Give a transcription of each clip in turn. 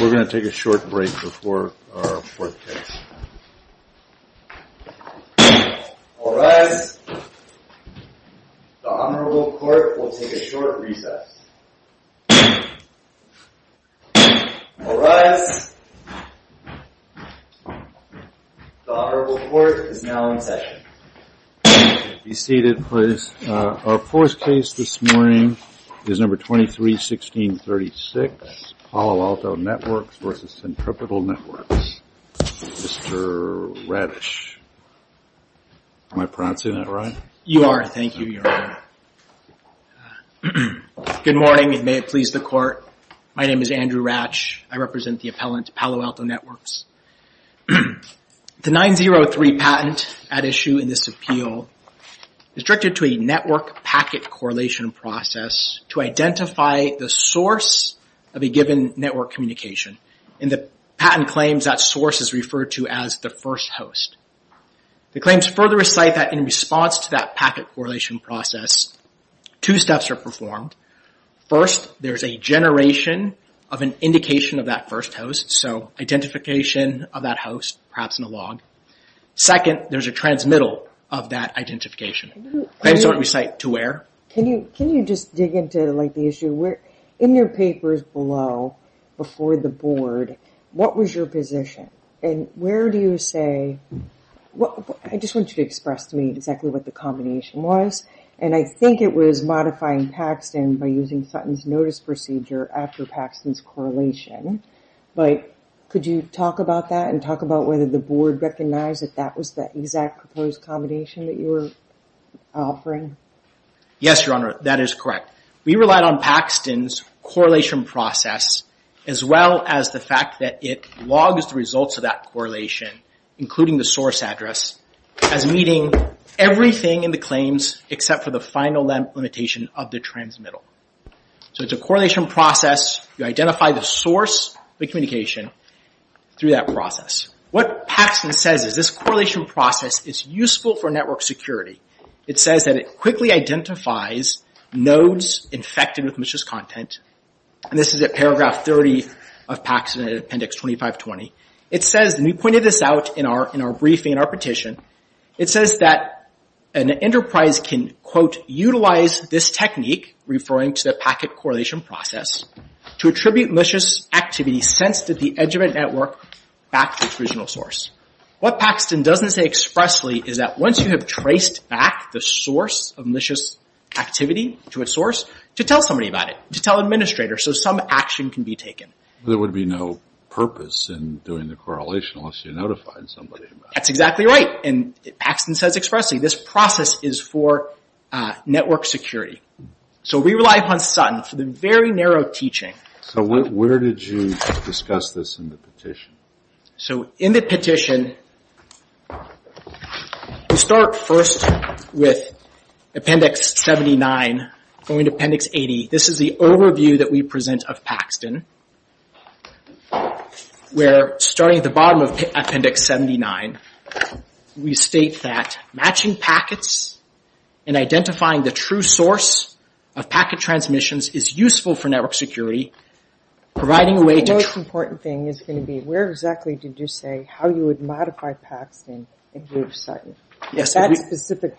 We're going to take a short break before our fourth case. All rise. The Honorable Court will take a short recess. All rise. The Honorable Court is now in session. Be seated, please. Our fourth case this morning is number 23-16-36, Palo Alto Networks v. Centripetal Networks. Mr. Radish. Am I pronouncing that right? You are. Thank you, Your Honor. Good morning, and may it please the Court. My name is Andrew Ratch. I represent the appellant, Palo Alto Networks. The 903 patent at issue in this appeal is directed to a network packet correlation process to identify the source of a given network communication. In the patent claims, that source is referred to as the first host. The claims further recite that in response to that packet correlation process, two steps are performed. First, there's a generation of an indication of that first host. So identification of that host, perhaps in a log. Second, there's a transmittal of that identification. Claims don't recite to where. Can you just dig into the issue? In your papers below, before the board, what was your position? And where do you say... I just want you to express to me exactly what the combination was. And I think it was modifying Paxton by using Sutton's notice procedure after Paxton's correlation. But could you talk about that and talk about whether the board recognized that that was the exact proposed combination that you were offering? Yes, Your Honor, that is correct. We relied on Paxton's correlation process, as well as the fact that it logs the results of that correlation, including the source address, as meeting everything in the claims, except for the final limitation of the transmittal. So it's a correlation process. You identify the source of the communication through that process. What Paxton says is this correlation process is useful for network security. It says that it quickly identifies nodes infected with malicious content. And this is at paragraph 30 of Paxton, appendix 2520. It says, and we pointed this out in our briefing, in our petition, it says that an enterprise can, quote, utilize this technique, referring to the packet correlation process, to attribute malicious activity sensed at the edge of a network back to its original source. What Paxton doesn't say expressly is that once you have traced back the source of malicious activity to a source, to tell somebody about it, to tell administrators, so some action can be taken. There would be no purpose in doing the correlation unless you notified somebody about it. That's exactly right. And Paxton says expressly, this process is for network security. So we rely upon Sutton for the very narrow teaching. So where did you discuss this in the petition? So in the petition, we start first with appendix 79, going to appendix 80. This is the overview that we present of Paxton. We're starting at the bottom of appendix 79. We state that matching packets and identifying the true source of packet transmissions is useful for network security, providing a way to... The most important thing is going to be where exactly did you say how you would modify Paxton in lieu of Sutton? Yes. That specific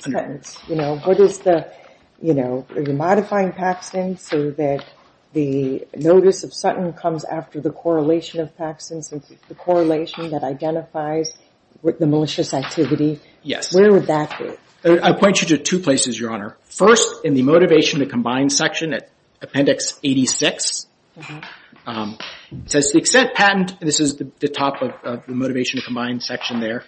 sentence, you know, what is the, you know, are you modifying Paxton so that the notice of Sutton comes after the correlation of Paxton, since it's the correlation that identifies the malicious activity? Yes. Where would that be? I point you to two places, Your Honor. First, in the motivation to combine section at appendix 86, it says to the extent patent, and this is the top of the motivation to combine section there,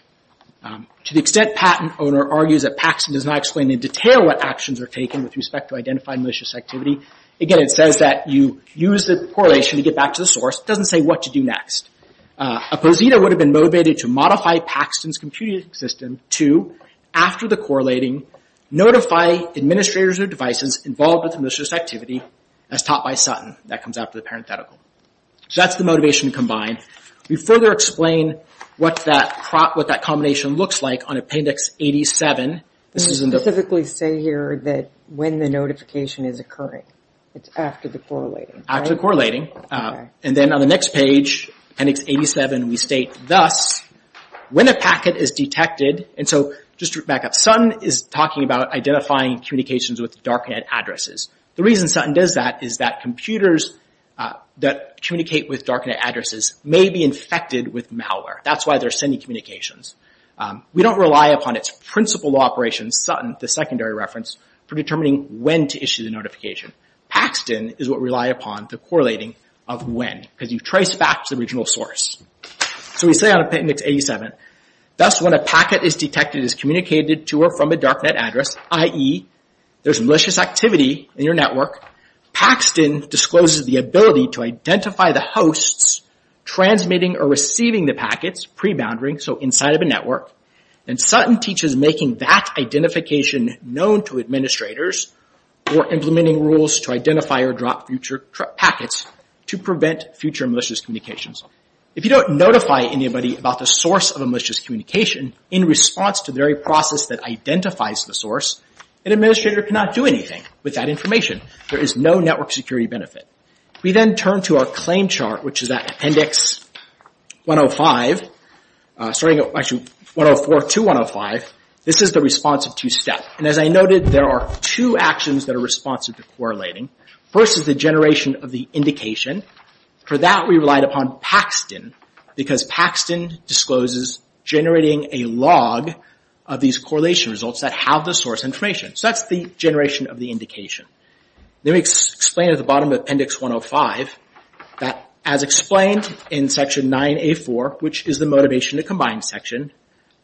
to the extent patent owner argues that Paxton does not explain in detail what actions are taken with respect to identifying malicious activity. Again, it says that you use the correlation to get back to the source. It doesn't say what to do next. A posita would have been motivated to modify Paxton's computing system to, after the correlating, notify administrators or devices involved with malicious activity as taught by Sutton. That comes after the parenthetical. So that's the motivation to combine. We further explain what that combination looks like on appendix 87. You specifically say here that when the notification is occurring. It's after the correlating, right? After the correlating. And then on the next page, appendix 87, we state thus, when a packet is detected, and so just to back up, Sutton is talking about identifying communications with darknet addresses. The reason Sutton does that is that computers that communicate with darknet addresses may be infected with malware. That's why they're sending communications. We don't rely upon its principal operations, Sutton, the secondary reference, for determining when to issue the notification. Paxton is what we rely upon, the correlating of when, because you trace back to the original source. So we say on appendix 87, thus, when a packet is detected, is communicated to or from a darknet address, i.e., there's malicious activity in your network. Paxton discloses the ability to identify the hosts transmitting or receiving the packets preboundary, so inside of a network. And Sutton teaches making that identification known to administrators or implementing rules to identify or drop future packets to prevent future malicious communications. If you don't notify anybody about the source of a malicious communication in response to the very process that identifies the source, an administrator cannot do anything with that information. There is no network security benefit. We then turn to our claim chart, which is at appendix 104 to 105. This is the response of two-step. As I noted, there are two actions that are responsive to correlating. First is the generation of the indication. For that, we relied upon Paxton, because Paxton discloses generating a log of these correlation results that have the source information. So that's the generation of the indication. Then we explain at the bottom of appendix 105 that, as explained in section 9A4, which is the motivation to combine section,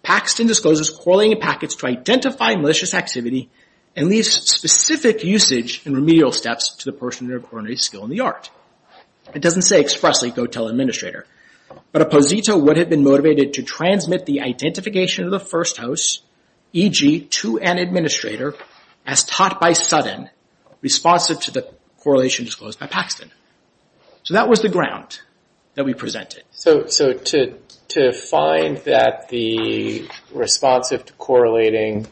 Paxton discloses correlating packets to identify malicious activity and leaves specific usage and remedial steps to the person who incorporated a skill in the art. It doesn't say expressly, go tell administrator. But a posito would have been motivated to transmit the identification of the first host, e.g., to an administrator, as taught by Sutton responsive to the correlation disclosed by Paxton. So that was the ground that we presented. So to find that the responsive to correlating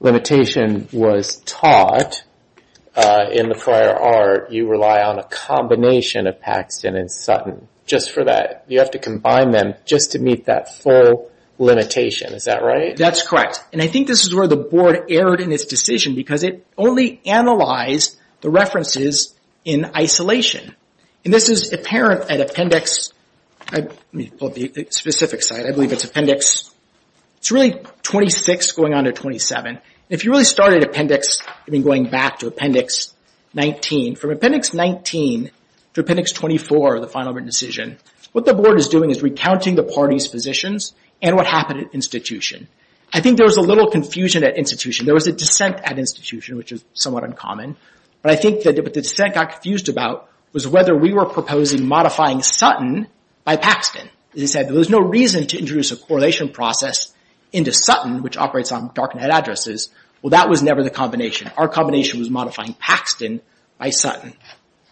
limitation was taught in the prior art, you rely on a combination of Paxton and Sutton just for that. You have to combine them just to meet that full limitation. Is that right? That's correct. I think this is where the board erred in its decision, because it only analyzed the references in isolation. This is apparent at appendix 26 going on to 27. If you really started appendix, going back to appendix 19, from appendix 19 to appendix 24, the final written decision, what the board is doing is recounting the parties' positions and what happened at institution. I think there was a little confusion at institution. There was a dissent at institution, which is somewhat uncommon. But I think what the dissent got confused about was whether we were proposing modifying Sutton by Paxton. As I said, there was no reason to introduce a correlation process into Sutton, which operates on darknet addresses. Well, that was never the combination. Our combination was modifying Paxton by Sutton.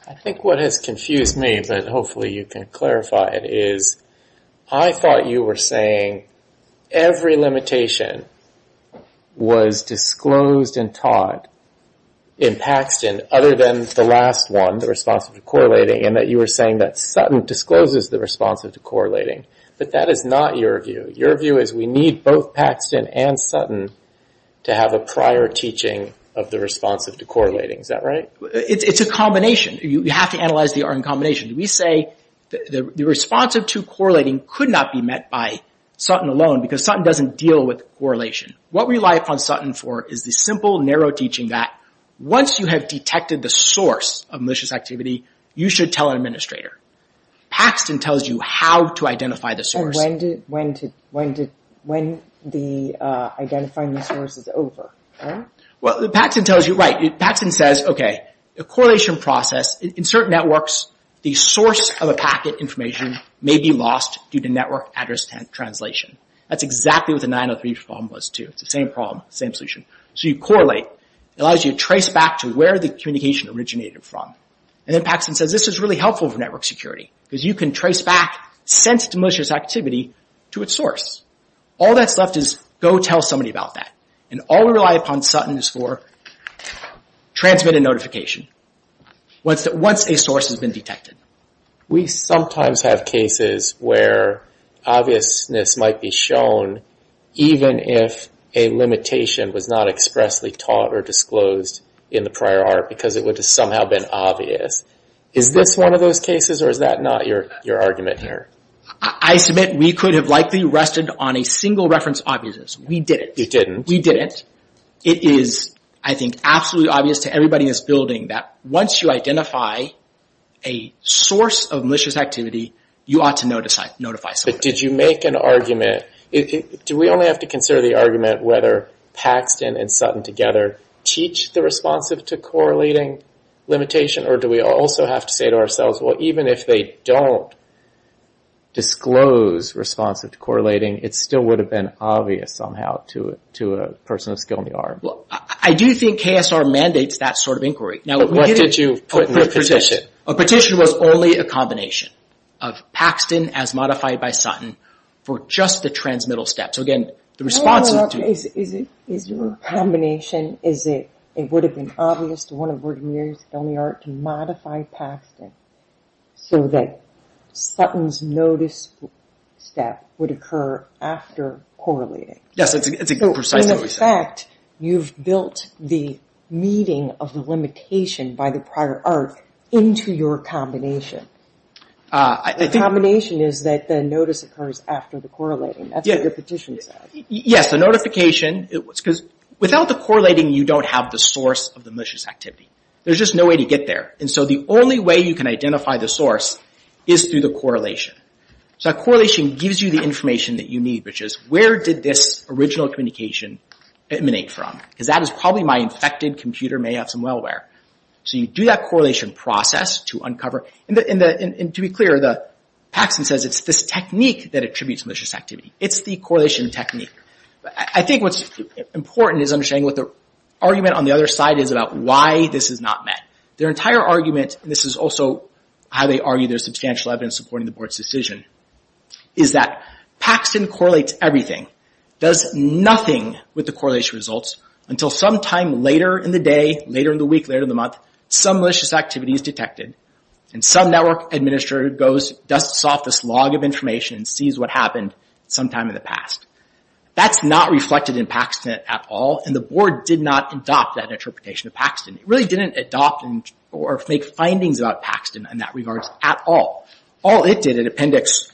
I think what has confused me, but hopefully you can clarify it, is I thought you were saying every limitation was disclosed and taught in Paxton other than the last one, the responsive to correlating, and that you were saying that Sutton discloses the responsive to correlating. But that is not your view. Your view is we need both Paxton and Sutton to have a prior teaching of the responsive to correlating. Is that right? It's a combination. You have to analyze the R in combination. We say the responsive to correlating could not be met by Sutton alone, because Sutton doesn't deal with correlation. What we rely upon Sutton for is the simple, narrow teaching that once you have detected the source of malicious activity, you should tell an administrator. Paxton tells you how to identify the source. And when the identifying the source is over, right? Well, Paxton tells you, right. Paxton says, okay, a correlation process in certain networks, the source of a packet information may be lost due to network address translation. That's exactly what the 903 problem was, too. It's the same problem, same solution. So you correlate. It allows you to trace back to where the communication originated from. And then Paxton says, this is really helpful for network security, because you can trace back since malicious activity to its source. All that's left is go tell somebody about that. And all we rely upon Sutton is for transmitted notification once a source has been detected. We sometimes have cases where obviousness might be shown, even if a limitation was not expressly taught or disclosed in the prior art, because it would have somehow been obvious. Is this one of those cases, or is that not your argument here? I submit we could have likely rested on a single reference obviousness. We didn't. You didn't. We didn't. It is, I think, absolutely obvious to everybody in this building that once you identify a source of malicious activity, you ought to notify somebody. But did you make an argument? Do we only have to consider the argument whether Paxton and Sutton together teach the responsive to correlating limitation? Or do we also have to say to ourselves, well, even if they don't disclose responsive to correlating, it still would have been obvious somehow to a person of skill in the arm. I do think KSR mandates that sort of inquiry. But what did you put in the petition? A petition was only a combination of Paxton as modified by Sutton for just the transmittal step. So, again, the responsive to – Is it a combination? Is it it would have been obvious to one of Virginia's filming art to modify Paxton so that Sutton's notice step would occur after correlating? Yes, it's precisely what we said. In fact, you've built the meeting of the limitation by the prior art into your combination. The combination is that the notice occurs after the correlating. That's what the petition says. Yes, the notification – because without the correlating, you don't have the source of the malicious activity. There's just no way to get there. And so the only way you can identify the source is through the correlation. So that correlation gives you the information that you need, which is where did this original communication emanate from? Because that is probably my infected computer may have some malware. So you do that correlation process to uncover. And to be clear, Paxton says it's this technique that attributes malicious activity. It's the correlation technique. I think what's important is understanding what the argument on the other side is about why this is not met. Their entire argument – and this is also how they argue there's substantial evidence supporting the board's decision – is that Paxton correlates everything, does nothing with the correlation results, until sometime later in the day, later in the week, later in the month, some malicious activity is detected, and some network administrator dusts off this log of information and sees what happened sometime in the past. That's not reflected in Paxton at all, and the board did not adopt that interpretation of Paxton. It really didn't adopt or make findings about Paxton in that regard at all. All it did at appendix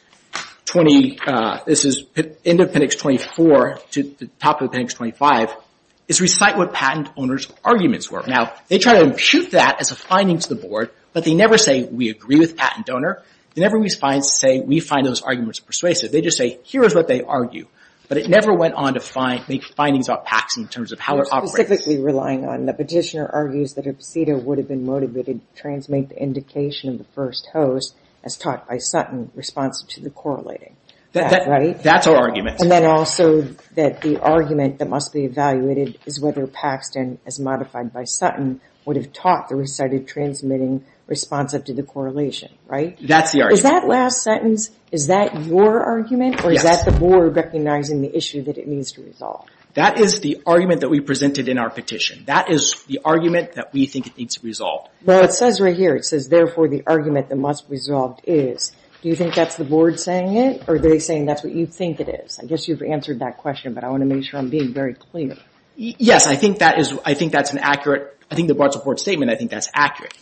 20 – this is end of appendix 24 to the top of appendix 25 – is recite what patent owners' arguments were. Now, they try to impute that as a finding to the board, but they never say, we agree with patent donor. They never say, we find those arguments persuasive. They just say, here is what they argue. But it never went on to make findings about Paxton in terms of how it operates. Specifically relying on the petitioner argues that a PSEDA would have been motivated to transmit the indication of the first host, as taught by Sutton, responsive to the correlating. That's our argument. And then also that the argument that must be evaluated is whether Paxton, as modified by Sutton, would have taught the recited transmitting responsive to the correlation, right? That's the argument. Is that last sentence – is that your argument? Yes. Or is that the board recognizing the issue that it needs to resolve? That is the argument that we presented in our petition. That is the argument that we think it needs to resolve. Well, it says right here. It says, therefore, the argument that must be resolved is. Do you think that's the board saying it? Or are they saying that's what you think it is? I guess you've answered that question, but I want to make sure I'm being very clear. Yes, I think that is – I think that's an accurate – I think the board support statement, I think that's accurate.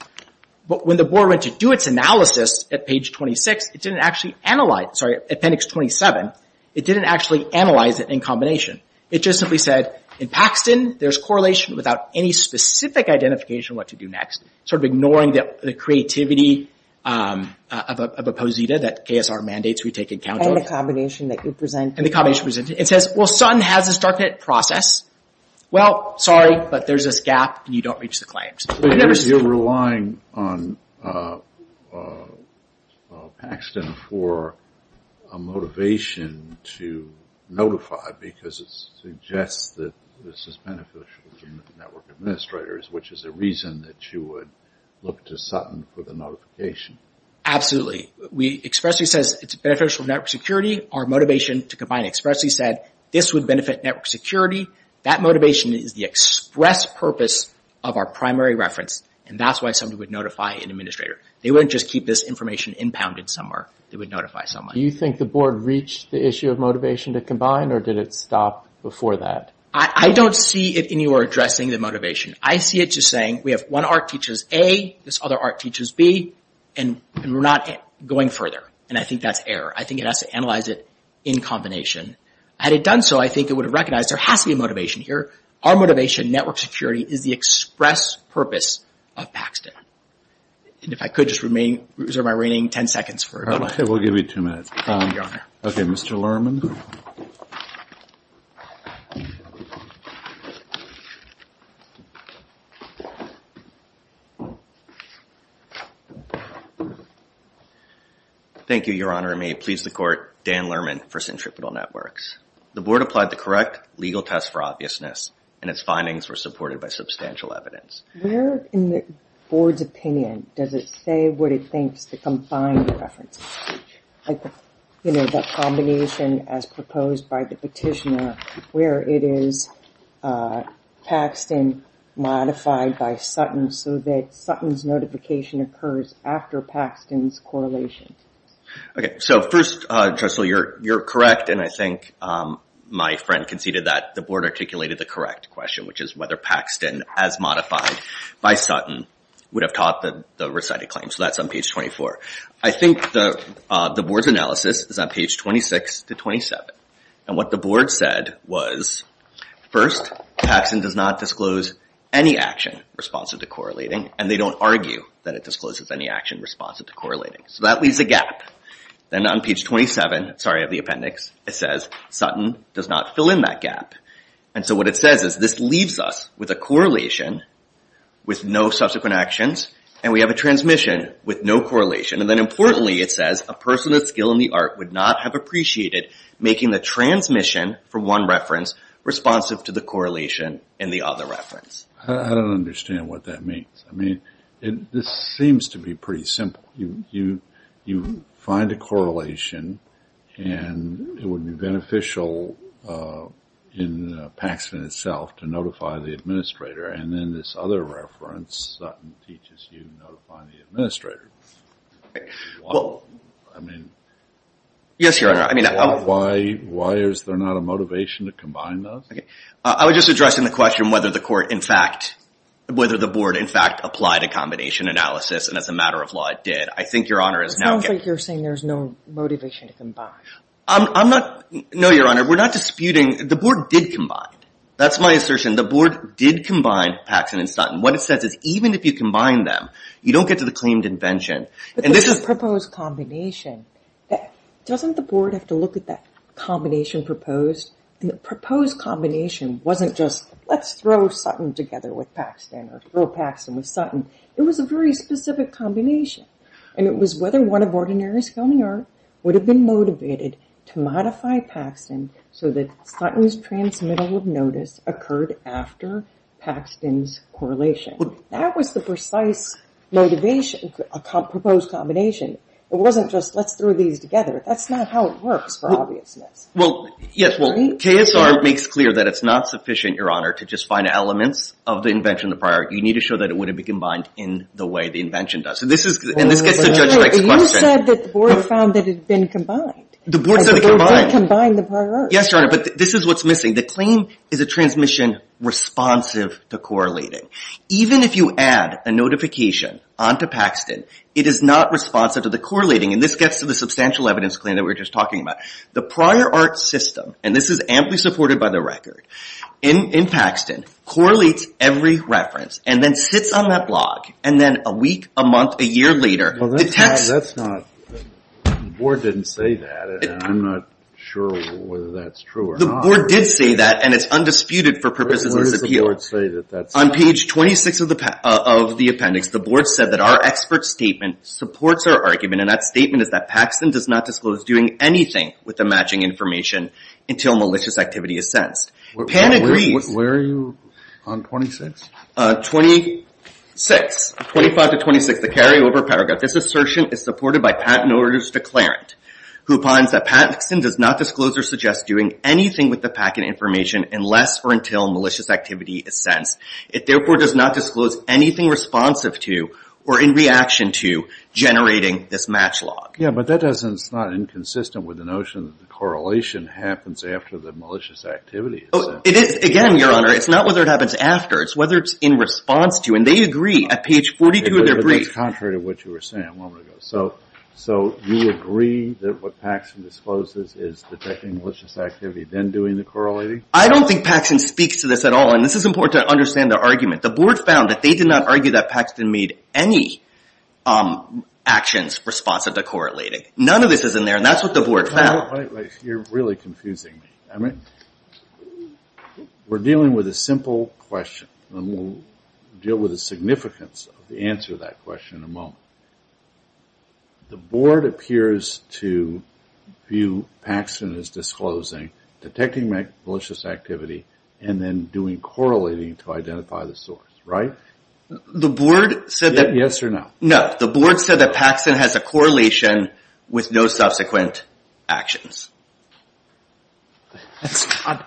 But when the board went to do its analysis at page 26, it didn't actually analyze – sorry, appendix 27. It didn't actually analyze it in combination. It just simply said, in Paxton, there's correlation without any specific identification what to do next, sort of ignoring the creativity of a posita that KSR mandates we take in account. And the combination that you presented. And the combination presented. It says, well, Sutton has this darknet process. Well, sorry, but there's this gap, and you don't reach the claims. You're relying on Paxton for a motivation to notify because it suggests that this is beneficial to network administrators, which is a reason that you would look to Sutton for the notification. Absolutely. Expressly says it's beneficial to network security. Our motivation to combine Expressly said this would benefit network security. That motivation is the express purpose of our primary reference, and that's why somebody would notify an administrator. They wouldn't just keep this information impounded somewhere. They would notify someone. Do you think the board reached the issue of motivation to combine, or did it stop before that? I don't see it in your addressing the motivation. I see it just saying, we have one arc teaches A, this other arc teaches B, and we're not going further. And I think that's error. I think it has to analyze it in combination. Had it done so, I think it would have recognized there has to be a motivation here. Our motivation, network security, is the express purpose of Paxton. And if I could just reserve my remaining ten seconds for it. We'll give you two minutes. Okay, Mr. Lerman. Thank you, Your Honor. Your Honor, may it please the court, Dan Lerman for Centripetal Networks. The board applied the correct legal test for obviousness, and its findings were supported by substantial evidence. Where in the board's opinion does it say what it thinks to combine the references? Like, you know, that combination as proposed by the petitioner, where it is Paxton modified by Sutton, so that Sutton's notification occurs after Paxton's correlation. Okay, so first, Jocelyn, you're correct, and I think my friend conceded that the board articulated the correct question, which is whether Paxton, as modified by Sutton, would have taught the recited claim. So that's on page 24. I think the board's analysis is on page 26 to 27. And what the board said was, first, Paxton does not disclose any action responsive to correlating, and they don't argue that it discloses any action responsive to correlating. So that leaves a gap. Then on page 27, sorry, of the appendix, it says Sutton does not fill in that gap. And so what it says is this leaves us with a correlation with no subsequent actions, and we have a transmission with no correlation. And then importantly, it says a person of skill in the art would not have appreciated making the transmission from one reference responsive to the correlation in the other reference. I don't understand what that means. I mean, this seems to be pretty simple. You find a correlation, and it would be beneficial in Paxton itself to notify the administrator, and then this other reference, Sutton teaches you to notify the administrator. Yes, Your Honor. Why is there not a motivation to combine those? I was just addressing the question whether the board in fact applied a combination analysis, and as a matter of law, it did. I think Your Honor is now getting… It sounds like you're saying there's no motivation to combine. No, Your Honor. We're not disputing. The board did combine. That's my assertion. The board did combine Paxton and Sutton. What it says is even if you combine them, you don't get to the claimed invention. But there's a proposed combination. Doesn't the board have to look at that combination proposed? The proposed combination wasn't just let's throw Sutton together with Paxton or throw Paxton with Sutton. It was a very specific combination, and it was whether one of Ordinary's filming art would have been motivated to modify Paxton so that Sutton's transmittal of notice occurred after Paxton's correlation. That was the precise motivation for a proposed combination. It wasn't just let's throw these together. That's not how it works, for obviousness. Well, yes. Well, KSR makes clear that it's not sufficient, Your Honor, to just find elements of the invention of the prior. You need to show that it wouldn't be combined in the way the invention does. And this gets to Judge Blake's question. You said that the board found that it had been combined. The board said it combined. The board did combine the prior art. Yes, Your Honor, but this is what's missing. The claim is a transmission responsive to correlating. Even if you add a notification onto Paxton, it is not responsive to the correlating, and this gets to the substantial evidence claim that we were just talking about. The prior art system, and this is amply supported by the record, in Paxton, correlates every reference and then sits on that log, and then a week, a month, a year later detects – Well, that's not – the board didn't say that, and I'm not sure whether that's true or not. The board did say that, and it's undisputed for purposes of this appeal. Where does the board say that that's true? On page 26 of the appendix, the board said that our expert statement supports our argument, and that statement is that Paxton does not disclose doing anything with the matching information until malicious activity is sensed. Pan agrees. Where are you on 26? 26, 25 to 26, the carryover paragraph. This assertion is supported by Pat and orders to Clarent, who finds that Paxton does not disclose or suggest doing anything with the packet information unless or until malicious activity is sensed. It therefore does not disclose anything responsive to or in reaction to generating this match log. Yeah, but that doesn't – it's not inconsistent with the notion that the correlation happens after the malicious activity is sensed. It is, again, Your Honor. It's not whether it happens after. It's whether it's in response to, and they agree at page 42 of their brief. But that's contrary to what you were saying a moment ago. So you agree that what Paxton discloses is detecting malicious activity, then doing the correlating? I don't think Paxton speaks to this at all, and this is important to understand the argument. The board found that they did not argue that Paxton made any actions responsive to correlating. None of this is in there, and that's what the board found. You're really confusing me. We're dealing with a simple question, and we'll deal with the significance of the answer to that question in a moment. The board appears to view Paxton as disclosing, detecting malicious activity, and then doing correlating to identify the source, right? The board said that – Yes or no? That's not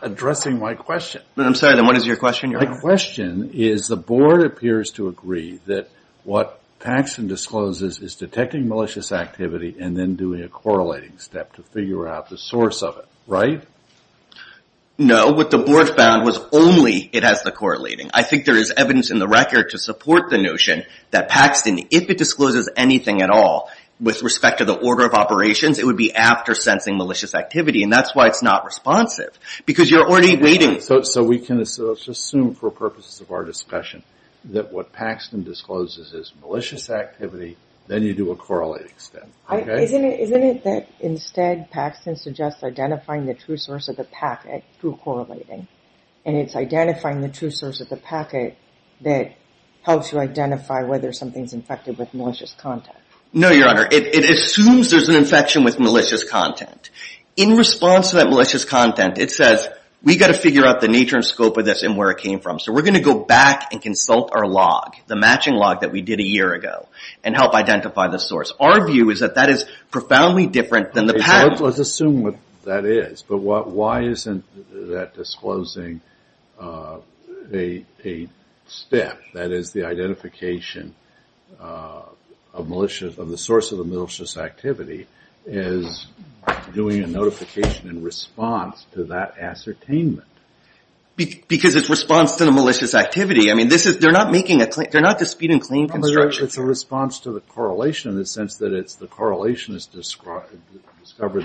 addressing my question. I'm sorry. Then what is your question, Your Honor? My question is the board appears to agree that what Paxton discloses is detecting malicious activity and then doing a correlating step to figure out the source of it, right? No. What the board found was only it has the correlating. I think there is evidence in the record to support the notion that Paxton, if it discloses anything at all with respect to the order of operations, it would be after sensing malicious activity, and that's why it's not responsive because you're already waiting. So we can just assume for purposes of our discussion that what Paxton discloses is malicious activity, then you do a correlating step, okay? Isn't it that instead Paxton suggests identifying the true source of the packet through correlating, and it's identifying the true source of the packet that helps you identify whether something's infected with malicious content? No, Your Honor. It assumes there's an infection with malicious content. In response to that malicious content, it says, we've got to figure out the nature and scope of this and where it came from, so we're going to go back and consult our log, the matching log that we did a year ago, and help identify the source. Our view is that that is profoundly different than the packet. Let's assume that that is, but why isn't that disclosing a step, that is the identification of malicious, of the source of the malicious activity, is doing a notification in response to that ascertainment? Because it's response to the malicious activity. I mean, this is, they're not making a, they're not disputing clean construction. It's a response to the correlation in the sense that it's the correlation has discovered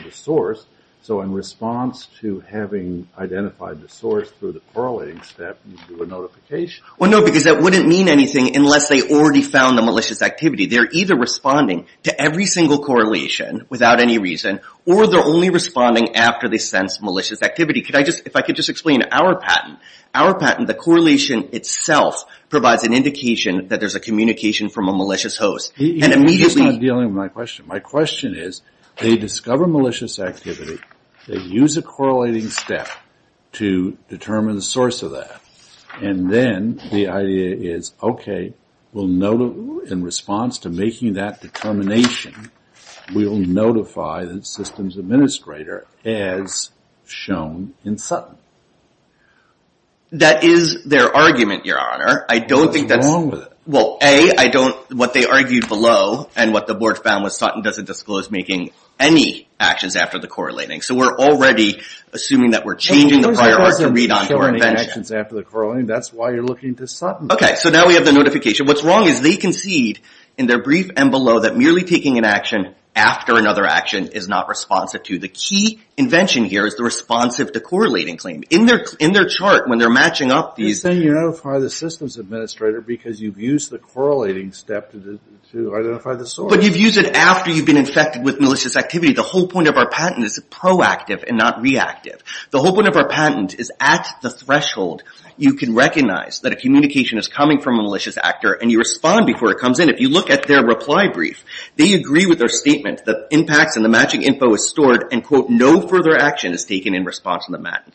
the source, so in response to having identified the source through the correlating step, you do a notification. Well, no, because that wouldn't mean anything unless they already found the malicious activity. They're either responding to every single correlation without any reason, or they're only responding after they sense malicious activity. Could I just, if I could just explain, our patent, our patent, the correlation itself provides an indication that there's a communication from a malicious host. And immediately... You're just not dealing with my question. My question is, they discover malicious activity, they use a correlating step to determine the source of that, and then the idea is, okay, in response to making that determination, we'll notify the systems administrator as shown in Sutton. That is their argument, Your Honor. I don't think that's... What's wrong with it? Well, A, I don't, what they argued below, and what the board found was Sutton doesn't disclose making any actions after the correlating. So we're already assuming that we're changing the prior art to read on correlation. Making actions after the correlating, that's why you're looking to Sutton. Okay, so now we have the notification. What's wrong is they concede in their brief and below that merely taking an action after another action is not responsive to. The key invention here is the responsive to correlating claim. In their chart, when they're matching up these... You're saying you notify the systems administrator because you've used the correlating step to identify the source. But you've used it after you've been infected with malicious activity. The whole point of our patent is proactive and not reactive. The whole point of our patent is at the threshold. You can recognize that a communication is coming from a malicious actor and you respond before it comes in. If you look at their reply brief, they agree with their statement. The impacts and the matching info is stored and, quote, no further action is taken in response to the matching.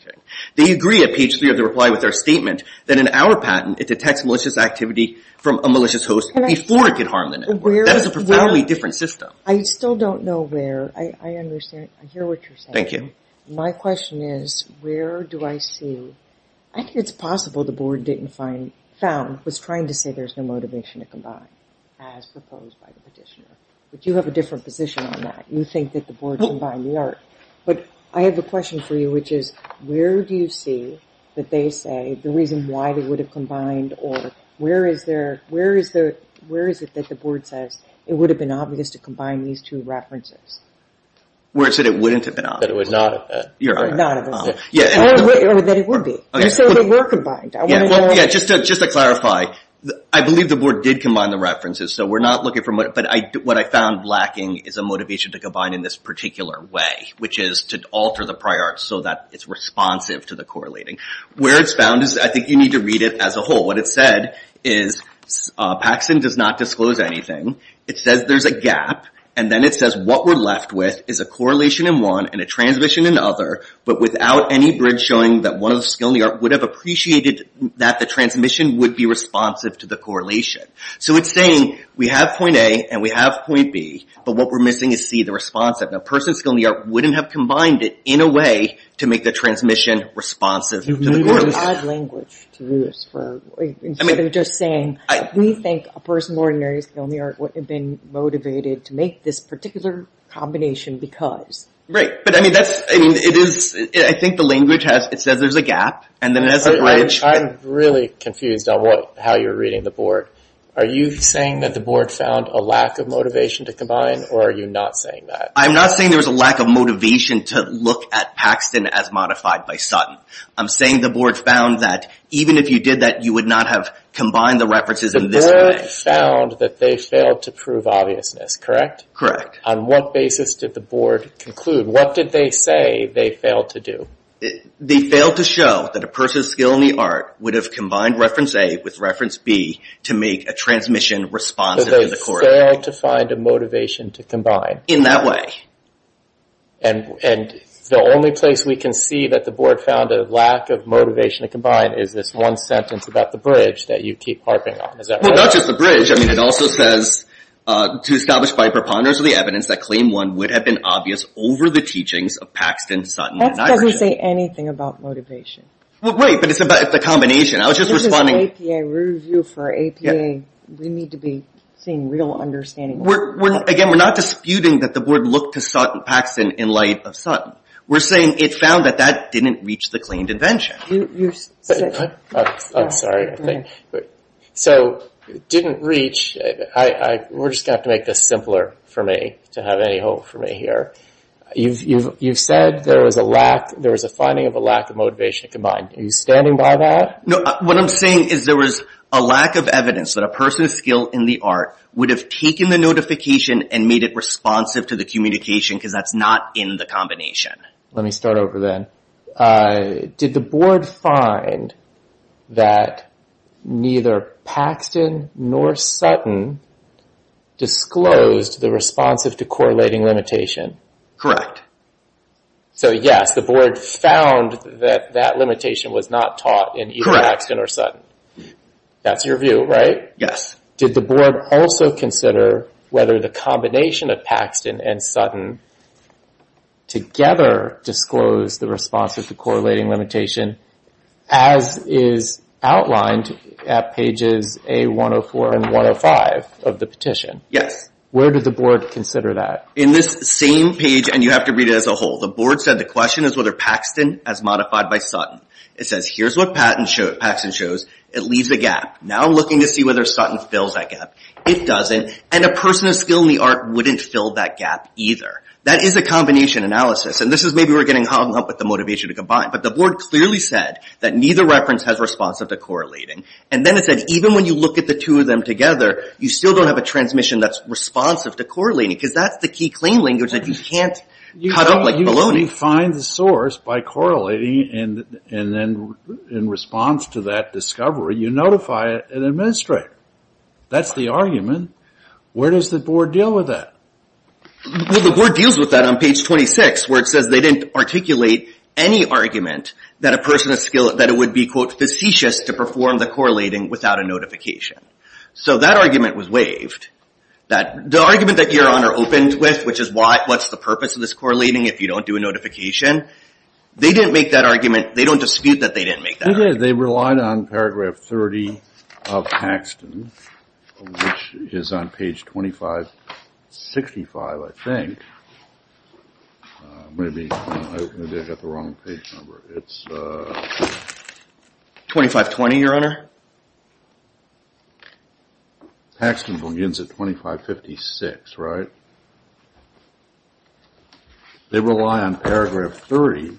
They agree at page three of their reply with their statement that in our patent it detects malicious activity from a malicious host before it could harm the network. That is a profoundly different system. I still don't know where. I understand. I hear what you're saying. Thank you. My question is, where do I see... I think it's possible the board didn't find... found... was trying to say there's no motivation to combine as proposed by the petitioner. But you have a different position on that. You think that the board combined the art. But I have a question for you, which is, where do you see that they say the reason why they would have combined or where is there... where is it that the board says it would have been obvious to combine these two references? Where it said it wouldn't have been obvious. That it was not obvious. You're right. Not obvious. Or that it would be. Just so they were combined. I want to know... Yeah, just to clarify, I believe the board did combine the references, so we're not looking for... but what I found lacking is a motivation to combine in this particular way, which is to alter the prior art so that it's responsive to the correlating. Where it's found is, I think you need to read it as a whole. What it said is, Paxson does not disclose anything. It says there's a gap. And then it says what we're left with is a correlation in one and a transmission in the other, but without any bridge showing that one of the skill in the art would have appreciated that the transmission would be responsive to the correlation. So it's saying we have point A and we have point B, but what we're missing is C, the responsive. A person's skill in the art wouldn't have combined it in a way to make the transmission responsive to the correlation. You're using odd language to do this. Instead of just saying, we think a person of ordinary skill in the art wouldn't have been motivated to make this particular combination because. Right, but I think the language says there's a gap. I'm really confused on how you're reading the board. Are you saying that the board found a lack of motivation to combine, or are you not saying that? I'm not saying there was a lack of motivation to look at Paxson as modified by Sutton. I'm saying the board found that even if you did that, you would not have combined the references in this way. They found that they failed to prove obviousness, correct? Correct. On what basis did the board conclude? What did they say they failed to do? They failed to show that a person's skill in the art would have combined reference A with reference B to make a transmission responsive to the correlation. So they failed to find a motivation to combine. In that way. And the only place we can see that the board found a lack of motivation to combine is this one sentence about the bridge that you keep harping on. Well, not just the bridge. It also says, to establish by preponderance of the evidence that claim one would have been obvious over the teachings of Paxson, Sutton, and Nybergen. That doesn't say anything about motivation. Well, wait, but it's a combination. This is an APA review for APA. We need to be seeing real understanding. Again, we're not disputing that the board looked to Paxson in light of Sutton. We're saying it found that that didn't reach the claimed invention. I'm sorry. So, didn't reach. We're just going to have to make this simpler for me to have any hope for me here. You've said there was a lack, there was a finding of a lack of motivation to combine. Are you standing by that? No, what I'm saying is there was a lack of evidence that a person of skill in the art would have taken the notification and made it responsive to the communication because that's not in the combination. Let me start over then. Did the board find that neither Paxton nor Sutton disclosed the responsive to correlating limitation? So, yes, the board found that that limitation was not taught in either Paxton or Sutton. That's your view, right? Yes. Did the board also consider whether the combination of Paxton and Sutton together disclosed the responsive to correlating limitation as is outlined at pages A-104 and 105 of the petition? Where did the board consider that? In this same page, and you have to read it as a whole, the board said the question is whether Paxton as modified by Sutton. It says, here's what Paxton shows. It leaves a gap. Now I'm looking to see whether Sutton fills that gap. It doesn't. And a person of skill in the art wouldn't fill that gap either. That is a combination analysis. And this is maybe we're getting hung up with the motivation to combine. But the board clearly said that neither reference has responsive to correlating. And then it said, even when you look at the two of them together, you still don't have a transmission that's responsive to correlating because that's the key claim language that you can't cut up like baloney. You find the source by correlating and then in response to that discovery you notify an administrator. That's the argument. Where does the board deal with that? Well, the board deals with that on page 26 where it says they didn't articulate any argument that a person of skill, that it would be, quote, facetious to perform the correlating without a notification. So that argument was waived. The argument that Your Honor opened with, which is what's the purpose of this correlating if you don't do a notification, they didn't make that argument. They don't dispute that they didn't make that argument. They did. They relied on paragraph 30 of Paxton. Which is on page 2565, I think. Maybe I got the wrong page number. 2520, Your Honor. Paxton begins at 2556, right? They rely on paragraph 30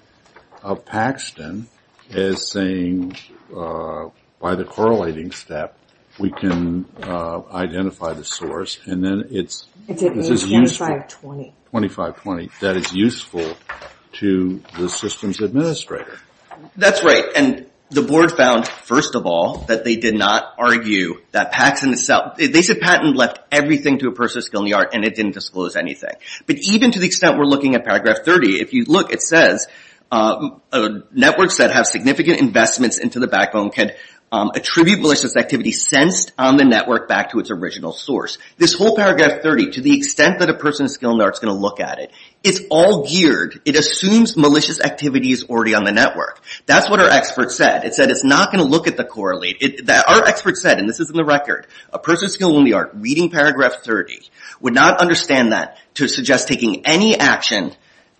of Paxton as saying by the correlating step we can identify the source. And then it's... It's at page 2520. 2520. That is useful to the system's administrator. That's right. And the board found, first of all, that they did not argue that Paxton itself... They said Paxton left everything to a person of skill in the art and it didn't disclose anything. But even to the extent we're looking at paragraph 30, if you look, it says networks that have significant investments into the backbone can attribute malicious activity sensed on the network back to its original source. This whole paragraph 30, to the extent that a person of skill in the art is going to look at it, it's all geared. It assumes malicious activity is already on the network. That's what our expert said. It said it's not going to look at the correlate. Our expert said, and this is in the record, a person of skill in the art reading paragraph 30 would not understand that to suggest taking any action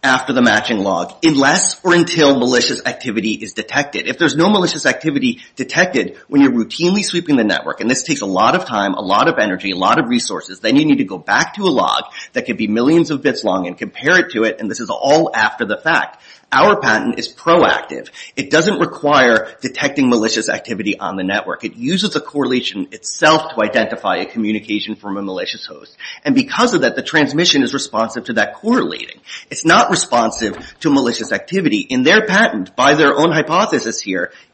after the matching log unless or until malicious activity is detected. If there's no malicious activity detected when you're routinely sweeping the network, and this takes a lot of time, a lot of energy, a lot of resources, then you need to go back to a log that could be millions of bits long and compare it to it, and this is all after the fact. Our patent is proactive. It doesn't require detecting malicious activity on the network. It uses a correlation itself to identify a communication from a malicious host. And because of that, the transmission is responsive to that correlating. It's not responsive to malicious activity. In their patent, by their own hypothesis,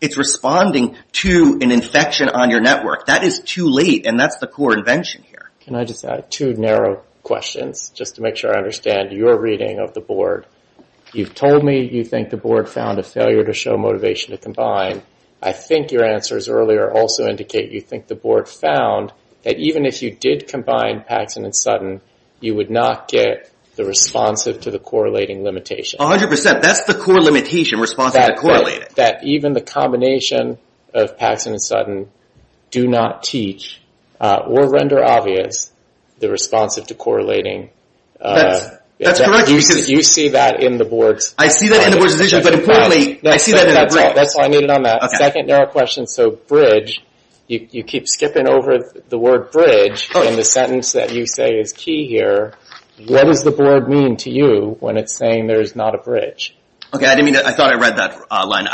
it's responding to an infection on your network. That is too late, and that's the core invention here. Can I just add two narrow questions just to make sure I understand your reading of the board? You've told me you think the board found a failure to show motivation to combine. I think your answers earlier also indicate you think the board found that even if you did combine Paxson and Sutton, you would not get the responsive to the correlating limitation. A hundred percent. That's the core limitation, responsive to correlating. That even the combination of Paxson and Sutton do not teach or render obvious the responsive to correlating. That's correct. Do you see that in the board's decision? I see that in the board's decision, but importantly, I see that in the bridge. That's all I needed on that. Second narrow question, so bridge, you keep skipping over the word bridge in the sentence that you say is key here. What does the board mean to you when it's saying there's not a bridge? I thought I read that line.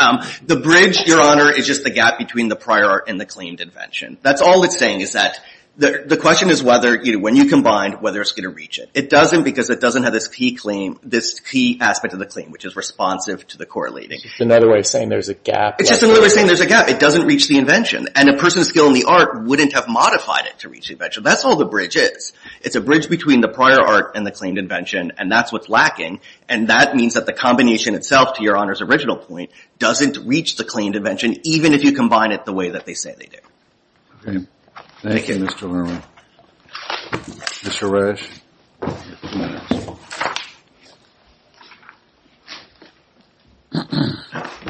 The bridge, Your Honor, is just the gap between the prior art and the claimed invention. That's all it's saying is that the question is whether, when you combine, whether it's going to reach it. It doesn't because it doesn't have this key claim, this key aspect of the claim, which is responsive to the correlating. It's another way of saying there's a gap. It's just another way of saying there's a gap. It doesn't reach the invention, and a person's skill in the art wouldn't have modified it to reach the invention. That's all the bridge is. It's a bridge between the prior art and the claimed invention, and that's what's lacking, and that means that the combination itself, to Your Honor's original point, doesn't reach the claimed invention, even if you combine it the way that they say they do. Okay. Thank you, Mr. Lerner. Mr. Resch.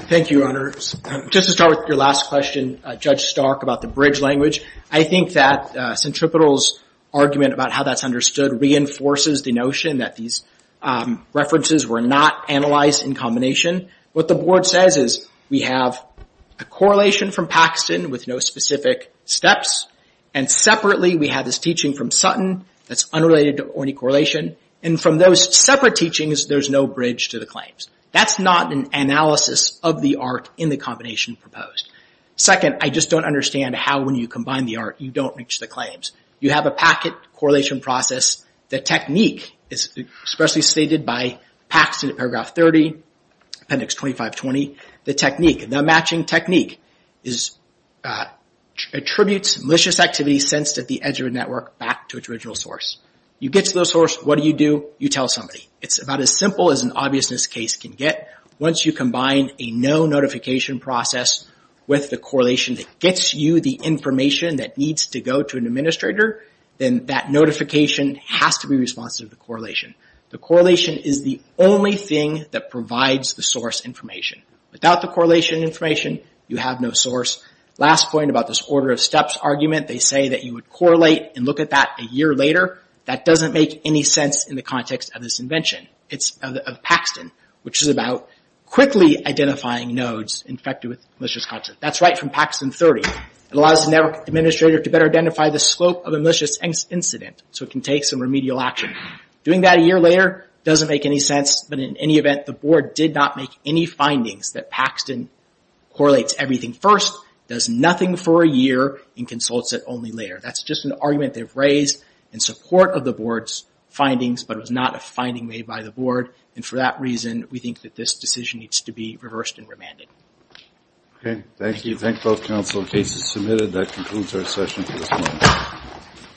Thank you, Your Honor. Just to start with your last question, Judge Stark, about the bridge language, I think that Centripetal's argument about how that's understood reinforces the notion that these references were not analyzed in combination. What the board says is we have a correlation from Paxton with no specific steps, and separately, we have this teaching from Sutton that's unrelated to or any correlation, and from those separate teachings, there's no bridge to the claims. That's not an analysis of the art in the combination proposed. Second, I just don't understand how, when you combine the art, you don't reach the claims. You have a packet correlation process. The technique is especially stated by Paxton in paragraph 30, appendix 2520. The technique, the matching technique, attributes malicious activity sensed at the edge of a network back to its original source. You get to the source. What do you do? You tell somebody. It's about as simple as an obviousness case can get. Once you combine a no notification process with the correlation that gets you the information that needs to go to an administrator, then that notification has to be responsive to correlation. The correlation is the only thing that provides the source information. Without the correlation information, you have no source. Last point about this order of steps argument. They say that you would correlate and look at that a year later. That doesn't make any sense in the context of this invention. It's of Paxton, which is about quickly identifying nodes infected with malicious content. That's right from Paxton 30. It allows the network administrator to better identify the slope of a malicious incident so it can take some remedial action. Doing that a year later doesn't make any sense, but in any event, the board did not make any findings that Paxton correlates everything first, does nothing for a year, and consults it only later. That's just an argument they've raised in support of the board's findings, but it was not a finding made by the board. For that reason, we think that this decision needs to be reversed and remanded. Thank you. I thank both counsel. The case is submitted. That concludes our session for this morning.